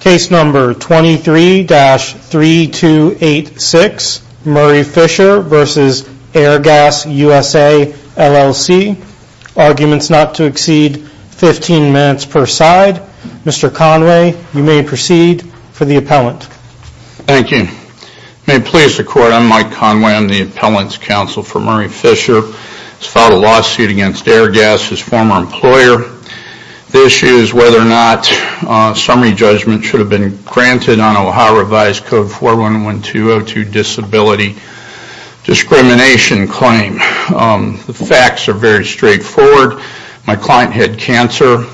Case number 23-3286, Murray Fisher v. Airgas USA LLC Arguments not to exceed 15 minutes per side Mr. Conway, you may proceed for the appellant Thank you May it please the court, I'm Mike Conway, I'm the appellant's counsel for Murray Fisher He's filed a lawsuit against Airgas, his former employer The issue is whether or not a summary judgment should have been granted on a Ohio revised code 411202 disability discrimination claim The facts are very straightforward My client had cancer,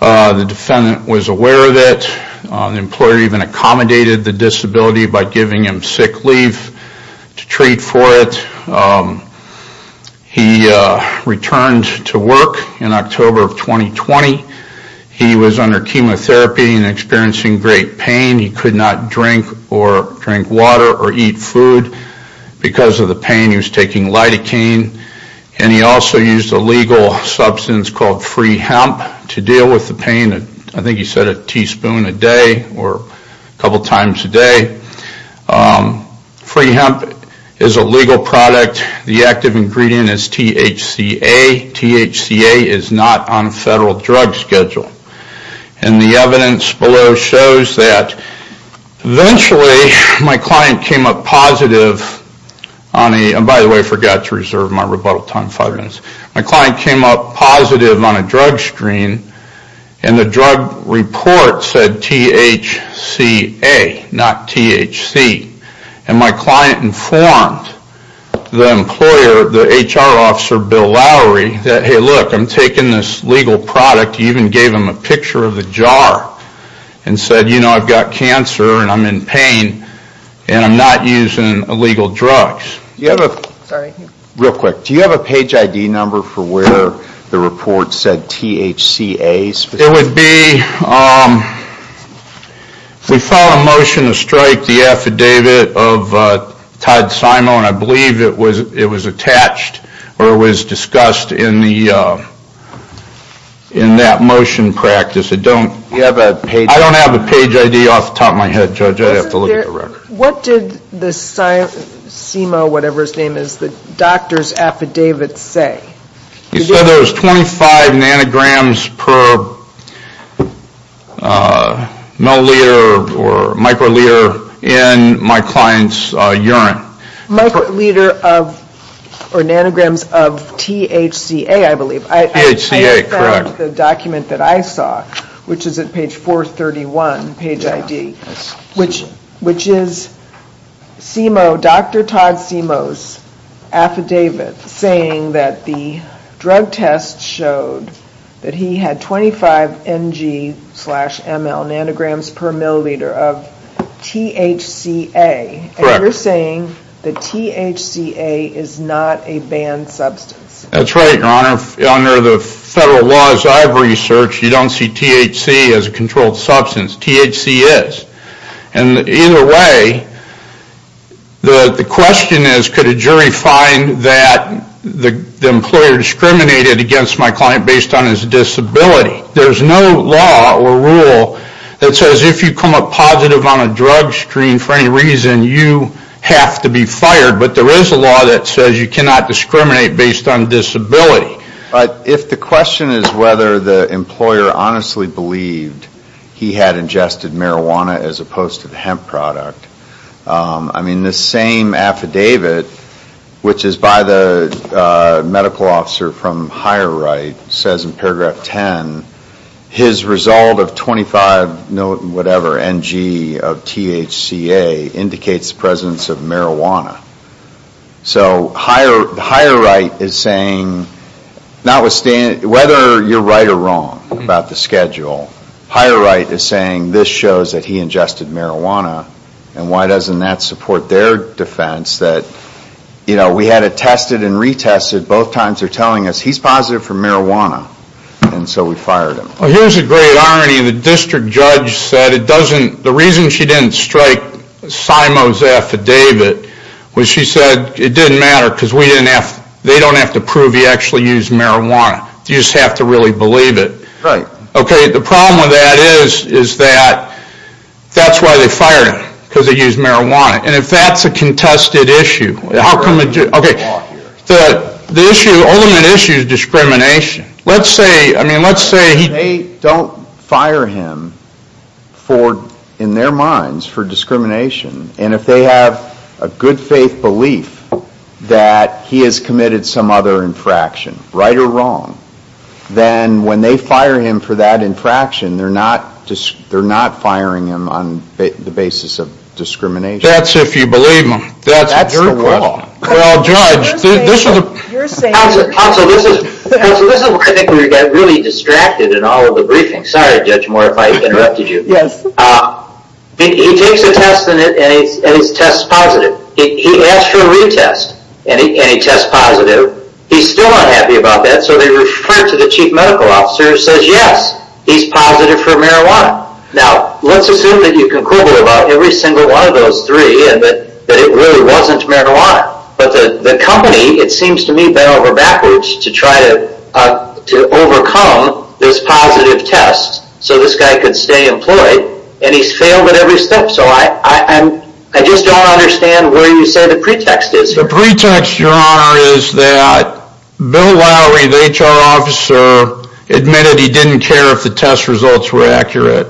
the defendant was aware of it The employer even accommodated the disability by giving him sick leave to treat for it He returned to work in October of 2020 He was under chemotherapy and experiencing great pain He could not drink or drink water or eat food Because of the pain he was taking lidocaine And he also used a legal substance called free hemp to deal with the pain I think he said a teaspoon a day or a couple times a day Free hemp is a legal product, the active ingredient is THCA THCA is not on a federal drug schedule And the evidence below shows that Eventually, my client came up positive By the way, I forgot to reserve my rebuttal time for five minutes My client came up positive on a drug screen And the drug report said THCA, not THC And my client informed the employer, the HR officer Bill Lowry That hey look, I'm taking this legal product He even gave him a picture of the jar And said you know I've got cancer and I'm in pain And I'm not using illegal drugs Real quick, do you have a page ID number for where the report said THCA? It would be We filed a motion to strike the affidavit of Todd Simo And I believe it was attached or it was discussed in that motion practice I don't have a page ID off the top of my head judge I'd have to look at the record What did the Simo, whatever his name is, the doctor's affidavit say? He said there was 25 nanograms per milliliter or microliter in my client's urine Microliter of, or nanograms of THCA I believe I found the document that I saw Which is at page 431, page ID Which is Simo, Dr. Todd Simo's affidavit Saying that the drug test showed that he had 25 ng slash ml nanograms per milliliter of THCA And you're saying that THCA is not a banned substance That's right your honor, under the federal laws I've researched You don't see THC as a controlled substance THC is And either way, the question is could a jury find that the employer discriminated against my client based on his disability There's no law or rule that says if you come up positive on a drug screen for any reason You have to be fired But there is a law that says you cannot discriminate based on disability But if the question is whether the employer honestly believed he had ingested marijuana as opposed to the hemp product I mean the same affidavit which is by the medical officer from Higher Right Says in paragraph 10 His result of 25 ng of THCA indicates the presence of marijuana So Higher Right is saying Whether you're right or wrong about the schedule Higher Right is saying this shows that he ingested marijuana And why doesn't that support their defense That we had it tested and retested Both times they're telling us he's positive for marijuana And so we fired him Well here's a great irony The district judge said the reason she didn't strike Simo's affidavit Was she said it didn't matter Because they don't have to prove he actually used marijuana You just have to really believe it Right Okay the problem with that is Is that that's why they fired him Because he used marijuana And if that's a contested issue How come a jury Okay the issue The only issue is discrimination Let's say They don't fire him In their minds for discrimination And if they have a good faith belief That he has committed some other infraction Right or wrong Then when they fire him for that infraction They're not firing him on the basis of discrimination That's if you believe me That's the law Well Judge You're saying Counsel this is Counsel this is where I think we got really distracted In all of the briefings Sorry Judge Moore if I interrupted you Yes He takes a test And his test is positive He asks for a retest And he tests positive He's still not happy about that So they refer him to the chief medical officer Who says yes He's positive for marijuana Now let's assume that you can quibble About every single one of those three And that it really wasn't marijuana But the company It seems to me bent over backwards To try to overcome This positive test So this guy could stay employed And he's failed at every step So I just don't understand Where you say the pretext is The pretext your honor is that Bill Lowry the HR officer Admitted he didn't care if the test results were accurate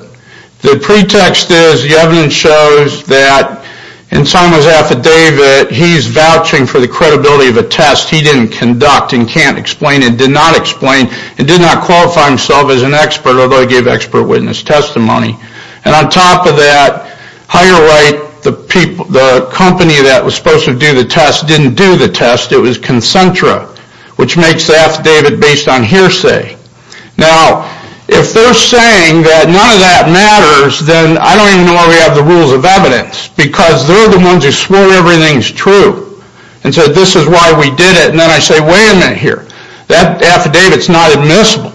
The pretext is The evidence shows that In Simon's affidavit He's vouching for the credibility of a test He didn't conduct And can't explain And did not explain And did not qualify himself as an expert Although he gave expert witness testimony And on top of that Higher Right The company that was supposed to do the test Didn't do the test It was Concentra Which makes the affidavit based on hearsay Now If they're saying that none of that matters Then I don't even know why we have the rules of evidence Because they're the ones who swore everything's true And said this is why we did it And then I say wait a minute here That affidavit's not admissible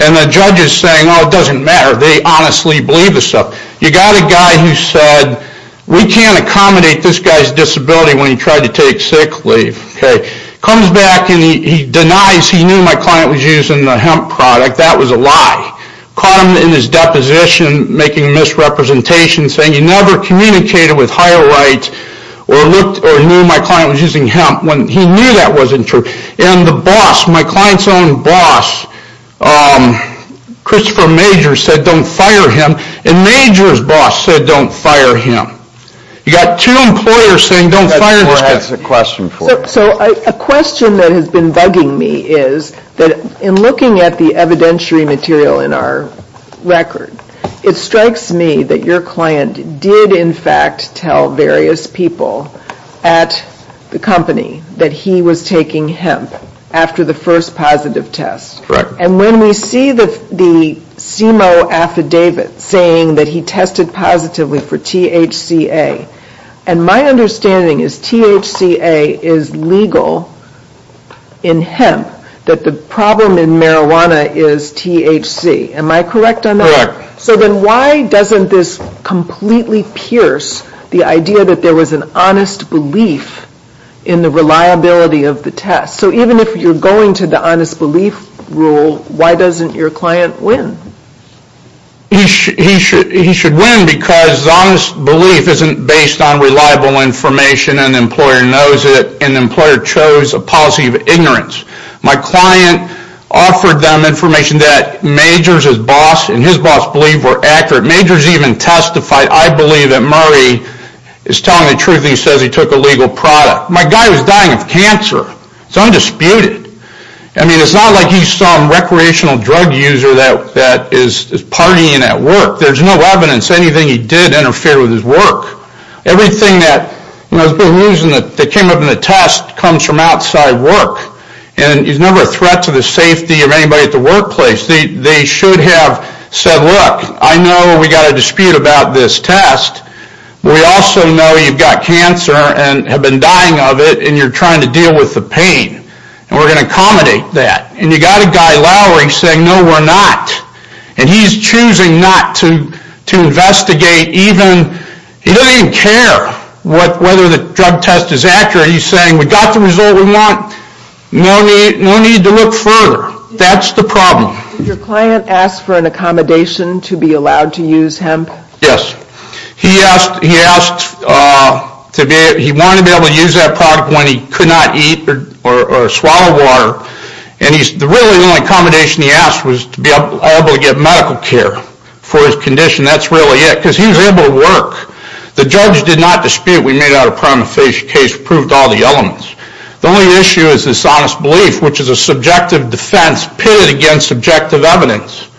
And the judge is saying Oh it doesn't matter They honestly believe the stuff You got a guy who said We can't accommodate this guy's disability When he tried to take sick leave Comes back and he denies He knew my client was using the hemp product That was a lie Caught him in his deposition Making misrepresentation Saying he never communicated with Higher Right Or knew my client was using hemp When he knew that wasn't true And the boss My client's own boss Christopher Major Said don't fire him And Major's boss said don't fire him You got two employers Saying don't fire this guy So a question that has been bugging me Is that in looking at the evidentiary material In our record It strikes me that your client Did in fact tell various people At the company That he was taking hemp After the first positive test And when we see the CMO affidavit Saying that he tested positively For THCA And my understanding is THCA is legal In hemp That the problem in marijuana Is THC Am I correct on that? So then why doesn't this Completely pierce The idea that there was an honest belief In the reliability of the test So even if you're going To the honest belief rule Why doesn't your client win? He should win Because the honest belief Isn't based on reliable information And the employer knows it And the employer chose A policy of ignorance My client offered them information That Major's boss And his boss believed were accurate Major's even testified I believe that Murray Is telling the truth And he says he took a legal product My guy was dying of cancer It's undisputed I mean it's not like he's some Recreational drug user That is partying at work There's no evidence Anything he did interfere with his work Everything that That came up in the test Comes from outside work And he's never a threat to the safety Of anybody at the workplace They should have said Look, I know we got a dispute About this test We also know you've got cancer And have been dying of it And you're trying to deal with the pain And we're going to accommodate that And you've got a guy Lowery Saying no we're not And he's choosing not to Investigate even He doesn't even care Whether the drug test is accurate He's saying we got the result we want No need to look further That's the problem Did your client ask for an accommodation To be allowed to use hemp? Yes He asked He wanted to be able to use that product When he could not eat Or swallow water And the really only accommodation he asked Was to be able to get medical care For his condition That's really it Because he was able to work The judge did not dispute We made out a prima facie case The only issue is this honest belief Which is a subjective defense Pitted against subjective evidence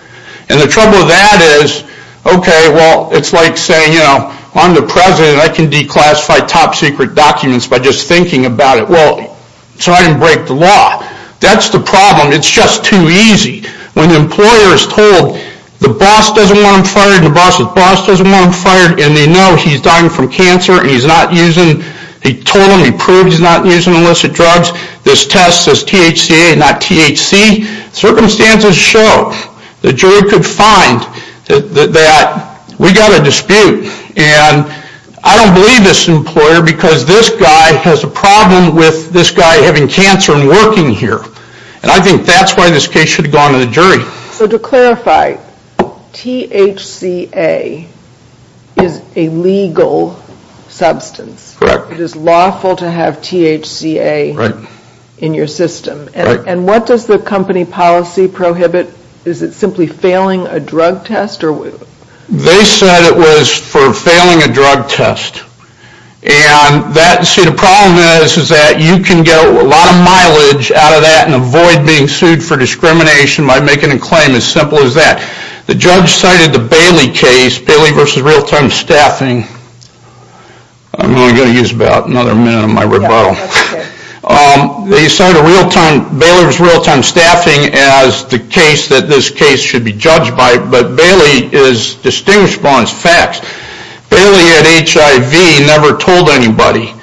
And the trouble with that is It's like saying I'm the president I can declassify top secret documents By just thinking about it So I didn't break the law That's the problem It's just too easy When the employer is told The boss doesn't want him fired And they know he's dying from cancer And he's not using He told them he proved he's not using illicit drugs This test says THCA not THC Circumstances show The jury could find That we got a dispute And I don't believe this employer Because this guy has a problem With this guy having cancer And working here And I think that's why this case Should have gone to the jury So to clarify THCA is a legal substance Correct It is lawful to have THCA Right In your system And what does the company policy prohibit Is it simply failing a drug test They said it was For failing a drug test And that See the problem is Is that you can get a lot of mileage Out of that and avoid being sued For discrimination by making a claim As simple as that The judge cited the Bailey case Bailey versus real time staffing I'm only going to use about another minute Of my rebuttal They cited real time Bailey versus real time staffing As the case that this case should be judged by But Bailey is Distinguishable on its facts Bailey had HIV Never told anybody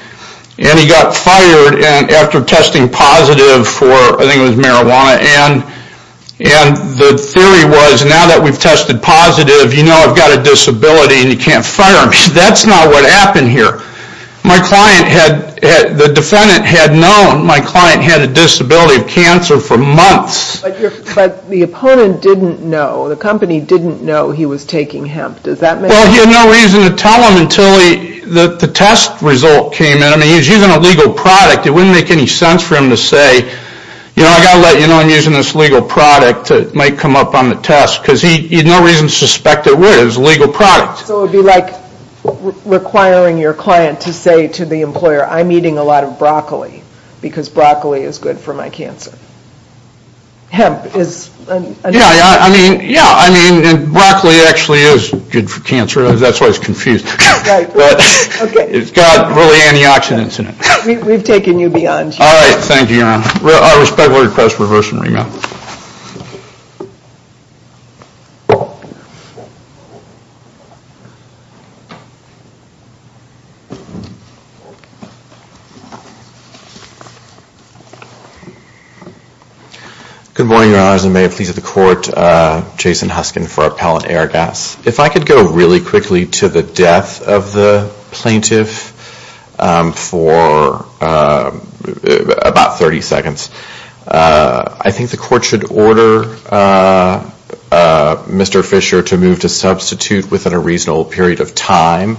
And he got fired After testing positive for I think it was marijuana And the theory was Now that we've tested positive You know I've got a disability And you can't fire me That's not what happened here My client had The defendant had known My client had a disability of cancer for months But the opponent didn't know The company didn't know He was taking hemp Well he had no reason to tell them Until the test result came in I mean he was using a legal product It wouldn't make any sense for him to say You know I've got to let you know I'm using this legal product It might come up on the test Because he had no reason to suspect it would It was a legal product So it would be like requiring your client To say to the employer I'm eating a lot of broccoli Because broccoli is good for my cancer Hemp is Yeah I mean Broccoli actually is good for cancer That's why it's confused It's got really antioxidants in it We've taken you beyond here Alright thank you I respectfully request reversal and remand Good morning your honors And may it please the court Jason Huskin for Appellant Airgas If I could go really quickly to the death Of the plaintiff For About 30 seconds I think the court should order Mr. Fisher To move to substitute Within a reasonable period of time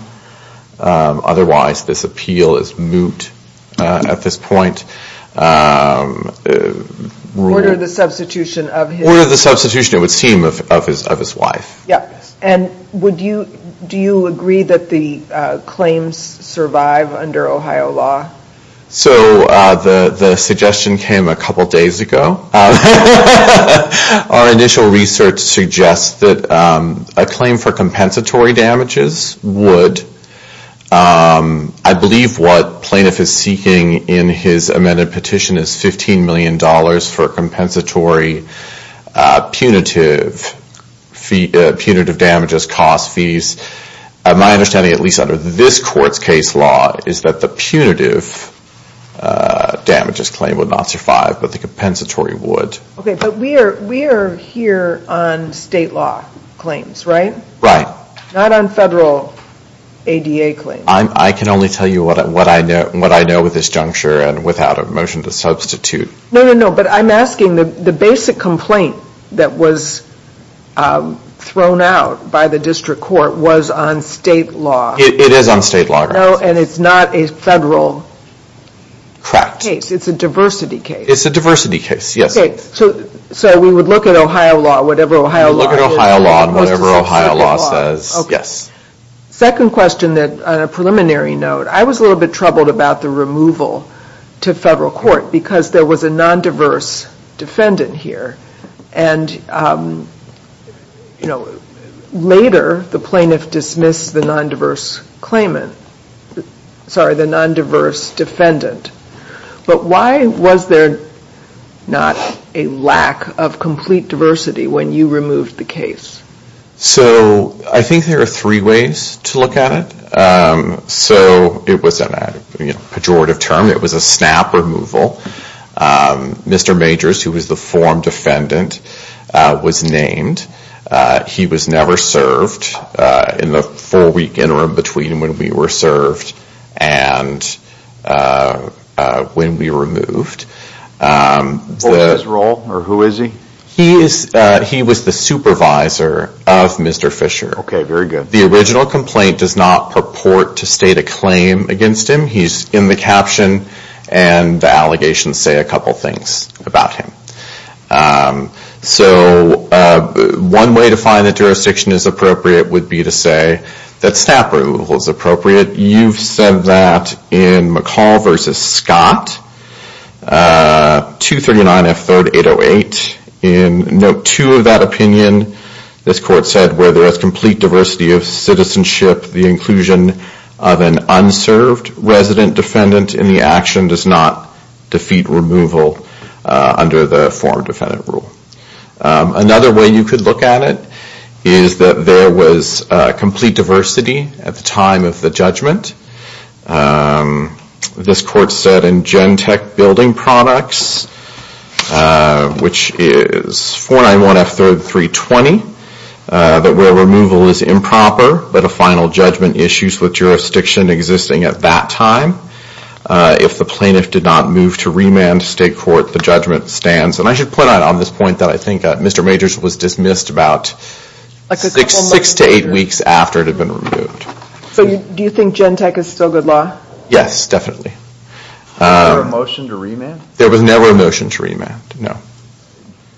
Otherwise this appeal Is moot At this point Order the substitution Order the substitution It would seem of his wife And would you Agree that the claims Survive under Ohio law So the Suggestion came a couple days ago Our initial research Suggests that A claim for compensatory damages Would I believe what Plaintiff is seeking in his Amended petition is 15 million dollars For compensatory Punitive Damages Cost fees My understanding at least under this courts case law Is that the punitive Damages claim Would not survive But the compensatory would We are here on state law Claims right Not on federal ADA claims I can only tell you what I know With this juncture And without a motion to substitute No but I'm asking The basic complaint That was thrown out By the district court Was on state law It is on state law And it's not a federal Case it's a diversity case It's a diversity case So we would look at Ohio law Whatever Ohio law Whatever Ohio law says Second question On a preliminary note I was a little bit troubled about the removal To federal court because there was a non-diverse Defendant here And You know The non-diverse Claimant Sorry the non-diverse defendant But why was there Not a lack Of complete diversity When you removed the case So I think there are three ways To look at it So it was A pejorative term It was a snap removal Mr. Majors who was the form defendant Was named He was never served In the four week Interim between when we were served And When we removed What was his role Or who is he He was the supervisor Of Mr. Fisher The original complaint does not purport To state a claim against him He's in the caption And the allegations say a couple things About him So One way to find That jurisdiction is appropriate would be to say That snap removal is appropriate You've said that In McCall vs. Scott 239 F 3rd 808 In note 2 of that opinion This court said Where there is complete diversity of citizenship The inclusion of an Unserved resident defendant In the action does not Indicate removal Under the form defendant rule Another way you could look at it Is that there was Complete diversity At the time of the judgment This court said In gen tech building products Which is 491 F 3rd 320 That where removal Is improper But a final judgment issues with jurisdiction Existing at that time If the plaintiff did not Move to remand state court The judgment stands And I should point out on this point That I think Mr. Majors was dismissed About 6 to 8 weeks after it had been removed So do you think gen tech is still good law? Yes definitely Was there a motion to remand? There was never a motion to remand No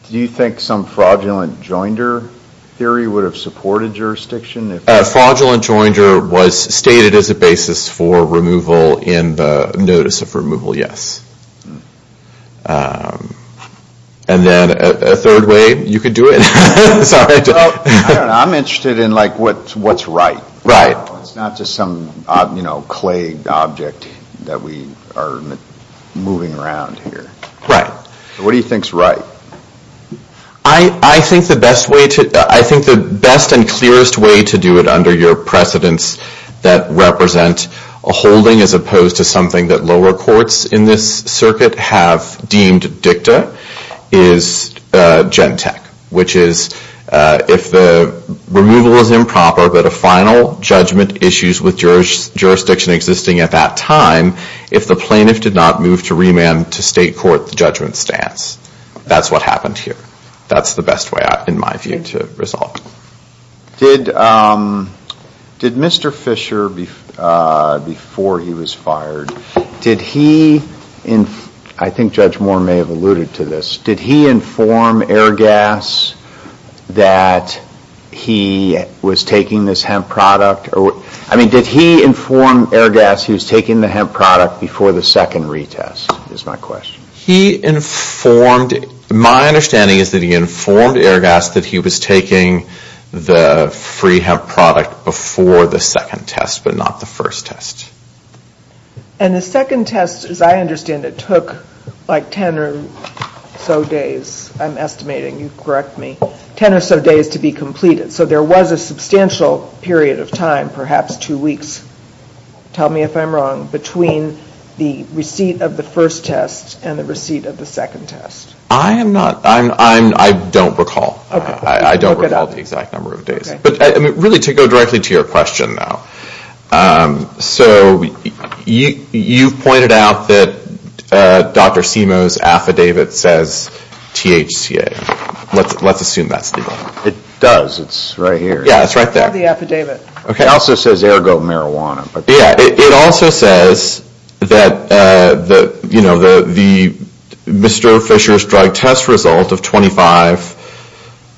Do you think some fraudulent joinder Theory would have supported jurisdiction? Fraudulent joinder was stated As a basis for removal In the notice of removal Yes And then A third way you could do it I don't know I'm interested in what's right It's not just some Clay object That we are moving around Right What do you think is right? I think the best way I think the best and clearest way To do it under your precedence That represent a holding As opposed to something that lower courts In this circuit have Deemed dicta Is gen tech Which is if the Removal is improper but a final Judgment issues with jurisdiction Existing at that time If the plaintiff did not move to remand To state court the judgment stands That's what happened here That's the best way in my view to resolve Did Did Mr. Fisher Before he was fired Did he I think Judge Moore may have alluded to this Did he inform Airgas That he Was taking this hemp product I mean did he inform Airgas he was taking the hemp product Before the second retest is my question He informed My understanding is that he informed Airgas that he was taking The free hemp product Before the second test but not The first test And the second test as I understand It took like ten or So days I'm estimating You correct me Ten or so days to be completed so there was a Substantial period of time perhaps Two weeks Tell me if I'm wrong between The receipt of the first test And the receipt of the second test I am not I don't recall I don't recall the exact number of days Really to go directly to your question So You pointed out that Dr. Simoes Affidavit says THCA Let's assume that's the one It does it's right here It also says ergo marijuana It also says That You know Mr. Fisher's drug test Result of 25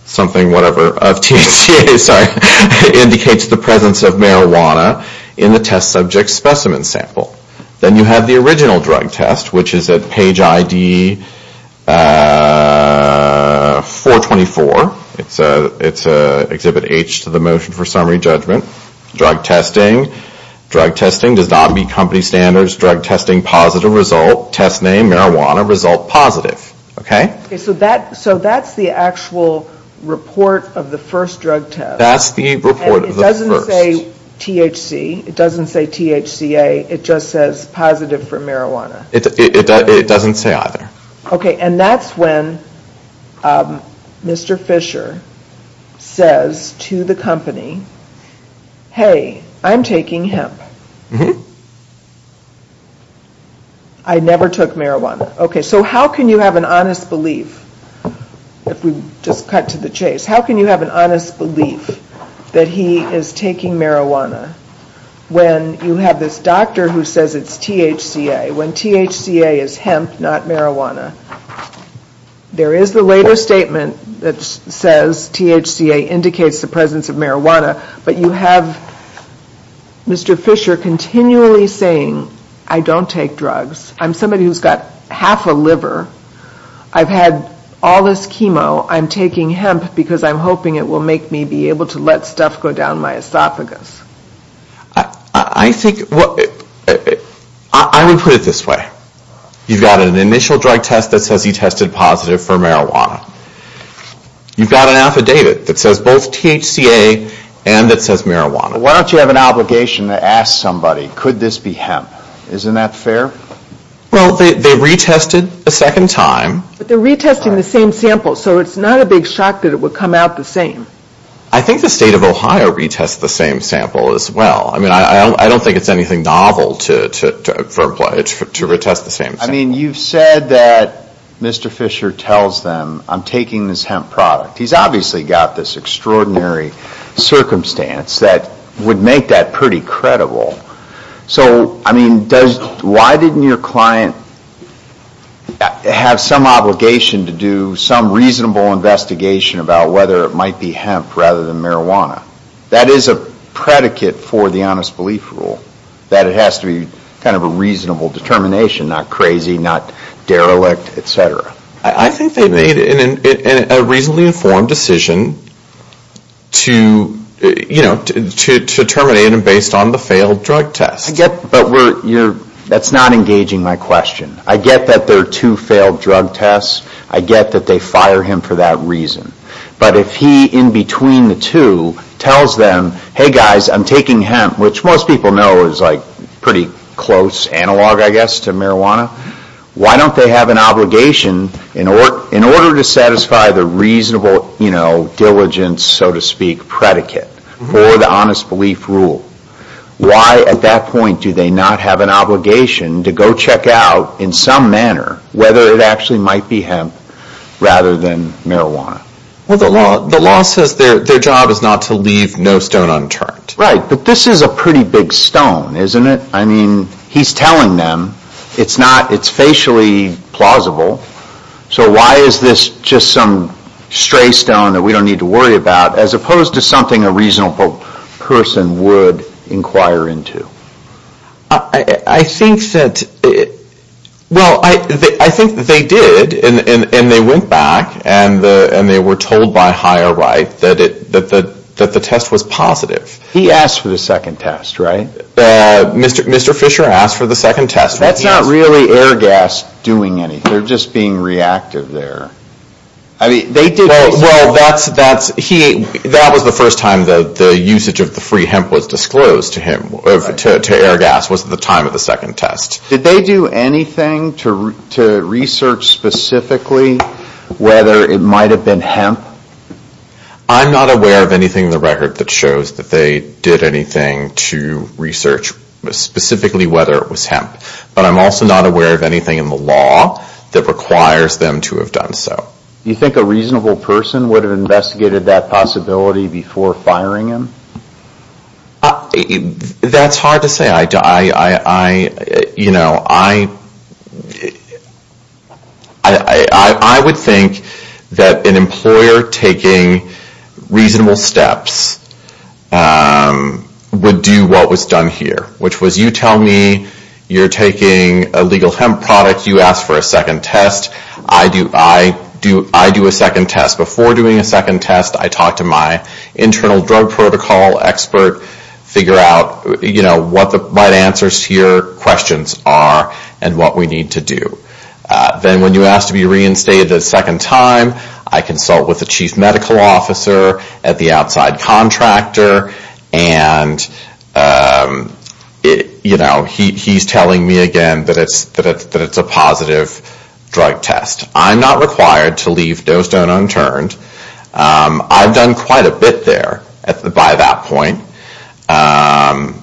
Something whatever THCA sorry Indicates the presence of marijuana In the test subject specimen sample Then you have the original drug test Which is at page ID 424 It's exhibit H To the motion for summary judgment Drug testing Drug testing does not meet Company standards Drug testing positive result Test name marijuana result positive So that's the actual Report of the first drug test That's the report of the first It doesn't say THC It doesn't say THCA It just says positive for marijuana It doesn't say either And that's when Mr. Fisher Says to the company Hey I'm taking hemp I never took marijuana So how can you have an honest belief If we just cut to the chase How can you have an honest belief That he is taking marijuana When you have this doctor Who says it's THCA When THCA is hemp Not marijuana There is the later statement That says THCA THCA indicates the presence of marijuana But you have Mr. Fisher continually saying I don't take drugs I'm somebody who's got half a liver I've had all this chemo I'm taking hemp Because I'm hoping it will make me Be able to let stuff go down my esophagus I think I would put it this way You've got an initial drug test That says he tested positive for marijuana You've got an affidavit That says both THCA And that says marijuana Why don't you have an obligation to ask somebody Could this be hemp Isn't that fair Well they retested a second time But they're retesting the same sample So it's not a big shock that it would come out the same I think the state of Ohio retests The same sample as well I don't think it's anything novel To retest the same sample I mean you've said that Mr. Fisher tells them I'm taking this hemp product He's obviously got this extraordinary Circumstance that would make that Pretty credible So I mean Why didn't your client Have some obligation To do some reasonable investigation About whether it might be hemp Rather than marijuana That is a predicate for the honest belief rule That it has to be Kind of a reasonable determination Not crazy, not derelict Etc. I think they made a reasonably informed decision To You know To terminate him based on the failed drug test But we're That's not engaging my question I get that there are two failed drug tests I get that they fire him for that reason But if he In between the two Tells them hey guys I'm taking hemp Which most people know is like Pretty close analog I guess To marijuana Why don't they have an obligation In order to satisfy the reasonable Diligence so to speak Predicate For the honest belief rule Why at that point do they not have an obligation To go check out In some manner Whether it actually might be hemp Rather than marijuana The law says their job is not to leave No stone unturned Right but this is a pretty big stone Isn't it I mean he's telling them It's not it's facially plausible So why is this just some Stray stone that we don't need to worry about As opposed to something a reasonable Person would Inquire into I think that Well I Think they did And they went back And they were told by higher right That the test was positive He asked for the second test Right Mr. Fisher asked for the second test That's not really air gas doing anything They're just being reactive there I mean they did Well that's That was the first time that the usage of the free Hemp was disclosed to him To air gas was at the time of the second test Did they do anything To research specifically Whether it might have been Hemp I'm not aware of anything in the record That shows that they did anything To research specifically Whether it was hemp But I'm also not aware of anything in the law That requires them to have done so You think a reasonable person Would have investigated that possibility Before firing him That's hard to say I You know I I I would think That an employer taking Reasonable steps Would do what was done here Which was you tell me You're taking a legal hemp product You ask for a second test I do I do a second test Before doing a second test I talk to my internal drug protocol expert Figure out What the right answers to your questions are And what we need to do Then when you ask to be reinstated A second time I consult with the chief medical officer At the outside contractor And You know He's telling me again That it's a positive Drug test I'm not required to leave Doestone unturned I've done quite a bit there By that point And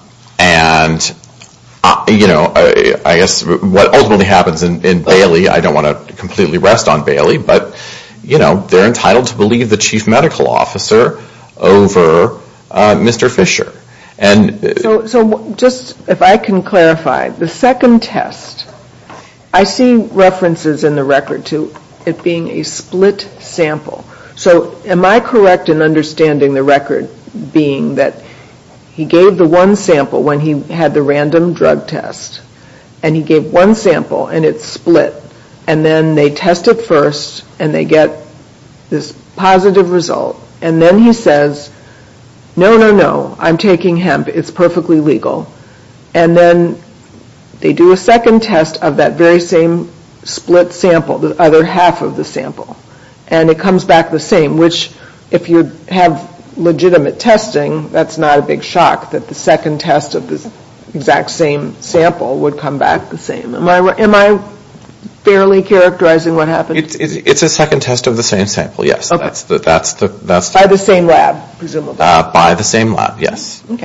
You know I guess what ultimately happens In Bailey I don't want to completely rest on Bailey But you know they're entitled to believe The chief medical officer Over Mr. Fisher And So just if I can clarify The second test I see references in the record To it being a split sample So am I correct In understanding the record Being that He gave the one sample When he had the random drug test And he gave one sample And it's split And then they test it first And they get this positive result And then he says No, no, no I'm taking hemp, it's perfectly legal And then They do a second test Of that very same split sample The other half of the sample And it comes back the same Which if you have Legitimate testing That's not a big shock That the second test of the exact same sample Would come back the same Am I fairly characterizing what happened? It's a second test of the same sample Yes By the same lab presumably By the same lab, yes Isn't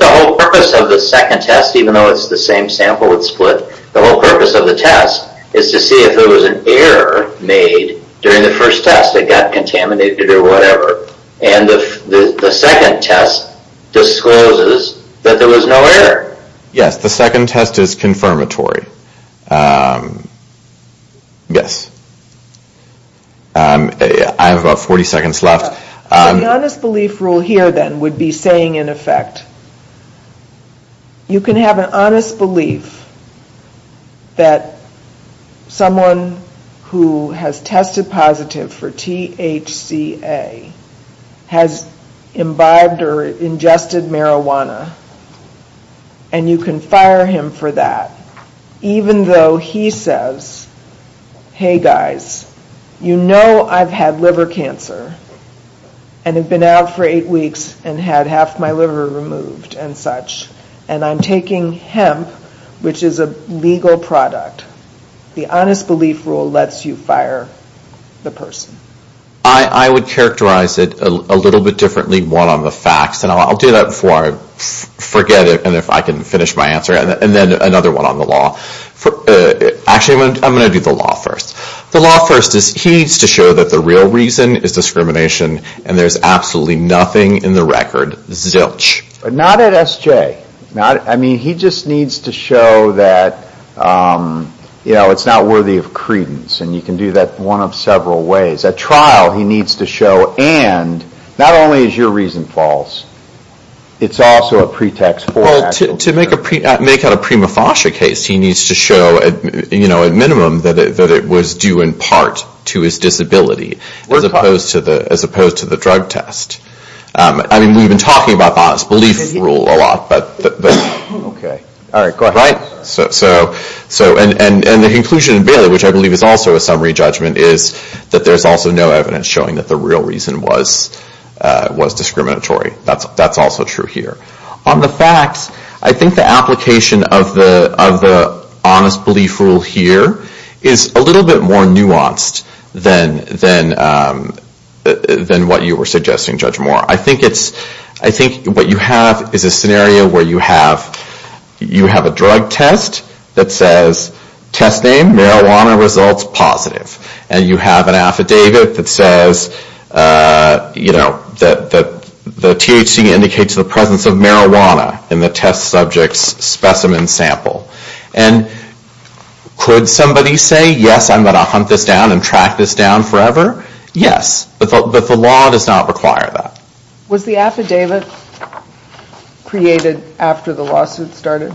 the whole purpose of the second test Even though it's the same sample with split The whole purpose of the test Is to see if there was an error Made during the first test It got contaminated or whatever And the second test Discloses That there was no error Yes, the second test is confirmatory Yes I have about 40 seconds left So the honest belief rule here then Would be saying in effect You can have an honest belief That Someone Who has tested positive For THCA Has imbibed Or ingested marijuana And you can Fire him for that Even though he says Hey guys You know I've had liver cancer And have been out For eight weeks and had half my liver Removed and such And I'm taking hemp Which is a legal product The honest belief rule Lets you fire the person I would characterize it A little bit differently One on the facts And I'll do that before I forget And if I can finish my answer And then another one on the law Actually I'm going to do the law first The law first is he needs to show That the real reason is discrimination And there's absolutely nothing in the record Zilch Not at SJ I mean he just needs to show That It's not worthy of credence And you can do that one of several ways At trial he needs to show And not only is your reason false It's also a pretext Well to make A prima facie case He needs to show At minimum that it was due in part To his disability As opposed to the drug test I mean we've been talking about The honest belief rule a lot But So And the conclusion in Bailey Which I believe is also a summary judgment Is that there's also no evidence showing That the real reason was discriminatory That's also true here On the facts I think the application of the Honest belief rule here Is a little bit more nuanced Than What you were suggesting Judge Moore I think what you have Is a scenario where you have You have a drug test That says test name Marijuana results positive And you have an affidavit that says You know That the THC indicates The presence of marijuana In the test subject's specimen sample And Could somebody say yes I'm going to hunt this down and track this down forever Yes But the law does not require that Was the affidavit Created after the lawsuit started?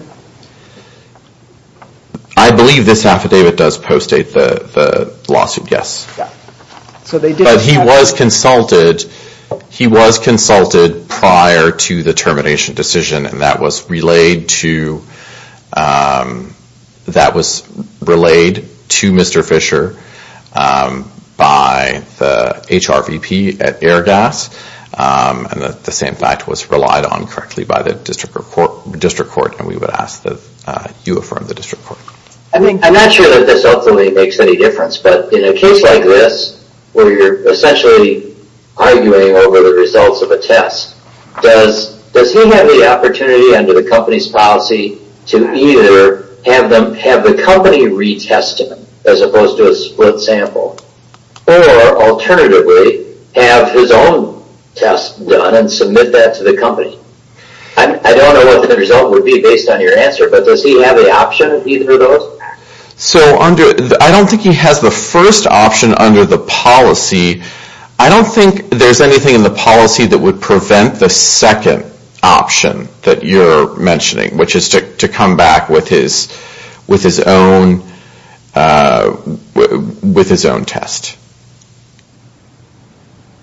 I believe this affidavit Does post-date the lawsuit Yes But he was consulted He was consulted prior To the termination decision And that was relayed to Mr. Fisher By the HRVP At Airgas And the same fact Was relied on correctly By the district court And we would ask That you affirm the district court I'm not sure that this ultimately makes any difference But in a case like this Where you're essentially Arguing over the results of a test Does he have the opportunity Under the company's policy To either Have the company retest it As opposed to a split sample Or alternatively Have his own test Done and submit that to the company I don't know what the result Would be based on your answer But does he have the option of either of those? So under I don't think he has the first option under the policy I don't think There's anything in the policy that would prevent The second option That you're mentioning Which is to come back with his With his own With his own test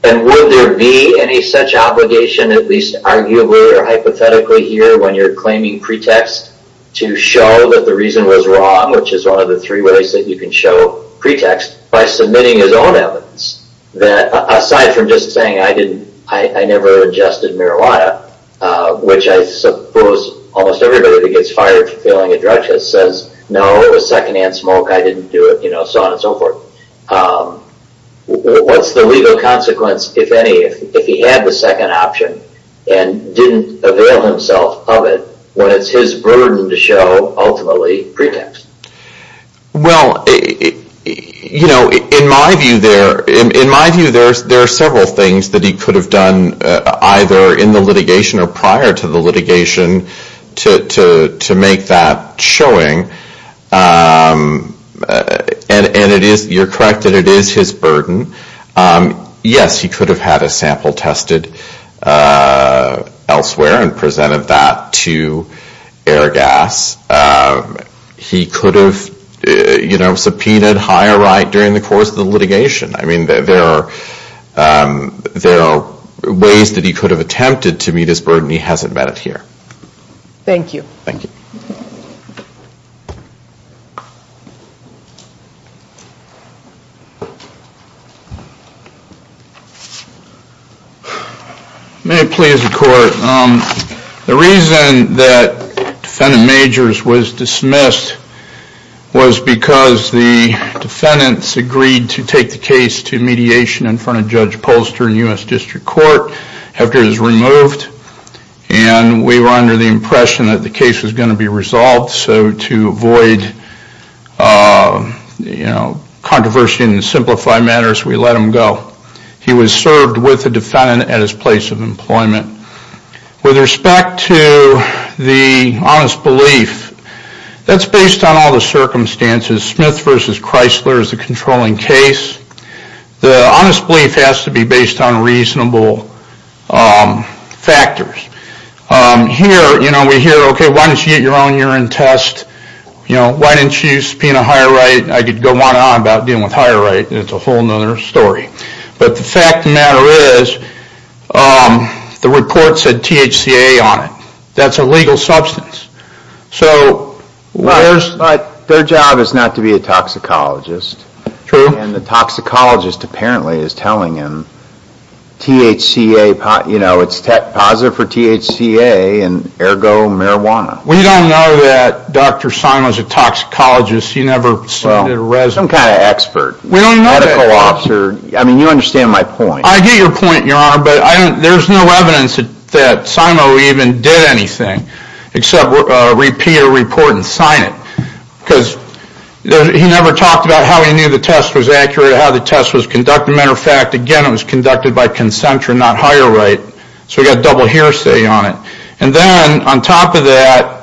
And would there be Any such obligation At least arguably or hypothetically Here when you're claiming pretext To show that the reason was wrong Which is one of the three ways that you can show pretext By submitting his own evidence That aside from just saying I never adjusted marijuana Which I suppose Almost everybody that gets fired For failing a drug test says No it was second hand smoke I didn't do it So on and so forth What's the legal consequence If he had the second option And didn't avail himself of it When it's his burden to show Ultimately pretext Well In my view There are several things That he could have done Either in the litigation or prior to the litigation To make that Showing And it is You're correct That it is his burden Yes he could have had a sample tested Elsewhere And presented that to Airgas He could have Subpoenaed higher right During the course of the litigation I mean there are Ways that he could have Attempted to meet his burden He hasn't met it here Thank you May it please the court The reason That defendant Majors Was dismissed Was because the Defendants agreed to take the case To mediation in front of Judge Polster In U.S. District Court After it was removed And we were under the impression That the case was going to be resolved So to avoid You know Controversy and simplify matters We let him go He was served with the defendant at his place of employment With respect to The honest belief That's based on all the circumstances Smith vs. Chrysler Is the controlling case The honest belief has to be based on Reasonable Factors Here we hear Why didn't you get your own urine test Why didn't you subpoena higher right I could go on and on about dealing with higher right It's a whole other story But the fact of the matter is The report said THCA on it That's a legal substance So Their job is not to be a Toxicologist And the toxicologist apparently Is telling him THCA You know it's positive for THCA And ergo marijuana We don't know that Dr. Simo is a toxicologist He never submitted a resume Some kind of expert Medical officer I mean you understand my point I get your point your honor But there's no evidence That Simo even did anything Except repeat a report And sign it Because he never talked about How he knew the test was accurate How the test was conducted Matter of fact again it was conducted by consent Not higher right So we got a double hearsay on it And then on top of that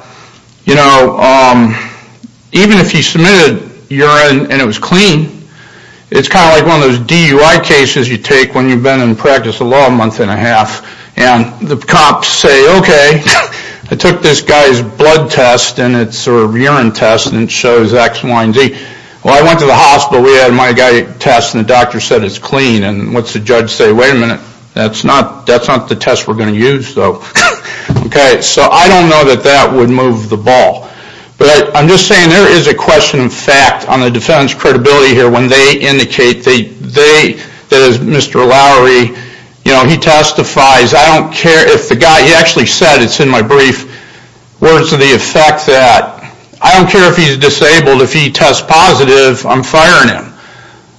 Even if he submitted Urine and it was clean It's kind of like one of those DUI Cases you take when you've been in practice A month and a half And the cops say okay I took this guy's blood test And it's a urine test And it shows X, Y, and Z Well I went to the hospital We had my guy test and the doctor said it's clean And what's the judge say wait a minute That's not the test we're going to use Okay so I don't know that That would move the ball But I'm just saying there is a question of fact On the defendant's credibility here When they indicate That as Mr. Lowry You know he testifies I don't care if the guy He actually said it's in my brief Words to the effect that I don't care if he's disabled If he tests positive I'm firing him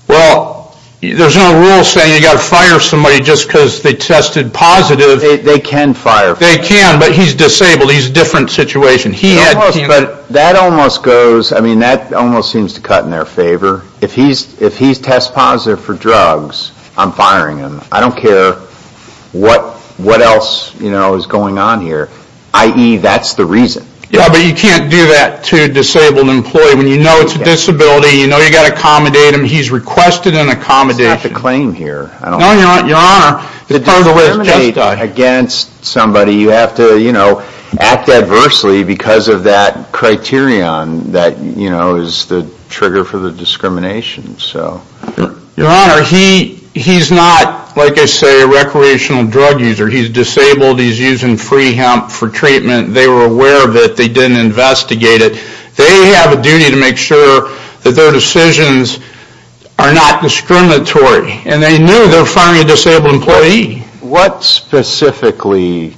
Well there's no rule saying You've got to fire somebody Just because they tested positive They can fire They can but he's disabled He's a different situation That almost goes That almost seems to cut in their favor If he's test positive For drugs I'm firing him I don't care what else Is going on here I.e. that's the reason Yeah but you can't do that to a disabled employee When you know it's a disability You know you've got to accommodate him He's requested an accommodation That's not the claim here No your honor The discrimination Against somebody you have to You know act adversely Because of that criterion That you know is the trigger For the discrimination Your honor he's not Like I say a recreational Drug user he's disabled He's using free hemp for treatment They were aware of it they didn't investigate it They have a duty to make sure That their decisions Are not discriminatory And they knew they were firing a disabled employee What specifically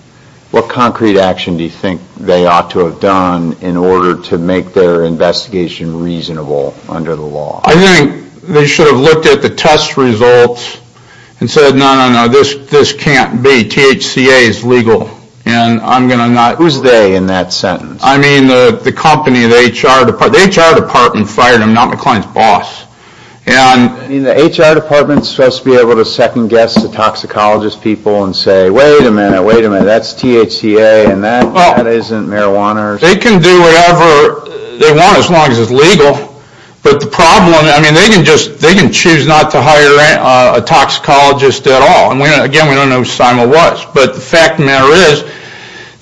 What concrete action Do you think they ought to have done In order to make their investigation Reasonable under the law I think they should have looked at The test results And said no no no this can't be THCA is legal And I'm going to not Who's they in that sentence I mean the company the HR department The HR department fired him not McLean's boss And The HR department is supposed to be able to second guess The toxicologist people and say Wait a minute wait a minute that's THCA And that isn't marijuana They can do whatever They want as long as it's legal But the problem I mean they can just They can choose not to hire A toxicologist at all And again we don't know who Simon was But the fact of the matter is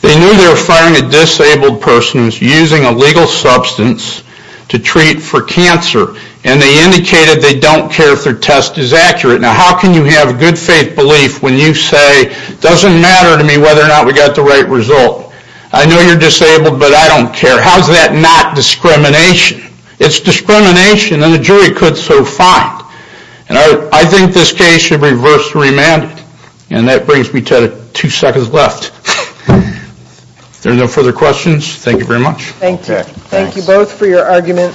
They knew they were firing a disabled person Using a legal substance To treat for cancer And they indicated they don't care If their test is accurate Now how can you have good faith belief when you say It doesn't matter to me whether or not We got the right result I know you're disabled but I don't care How's that not discrimination It's discrimination and a jury could So fine And I think this case should reverse remand And that brings me to Two seconds left If there are no further questions Thank you very much Thank you both for your argument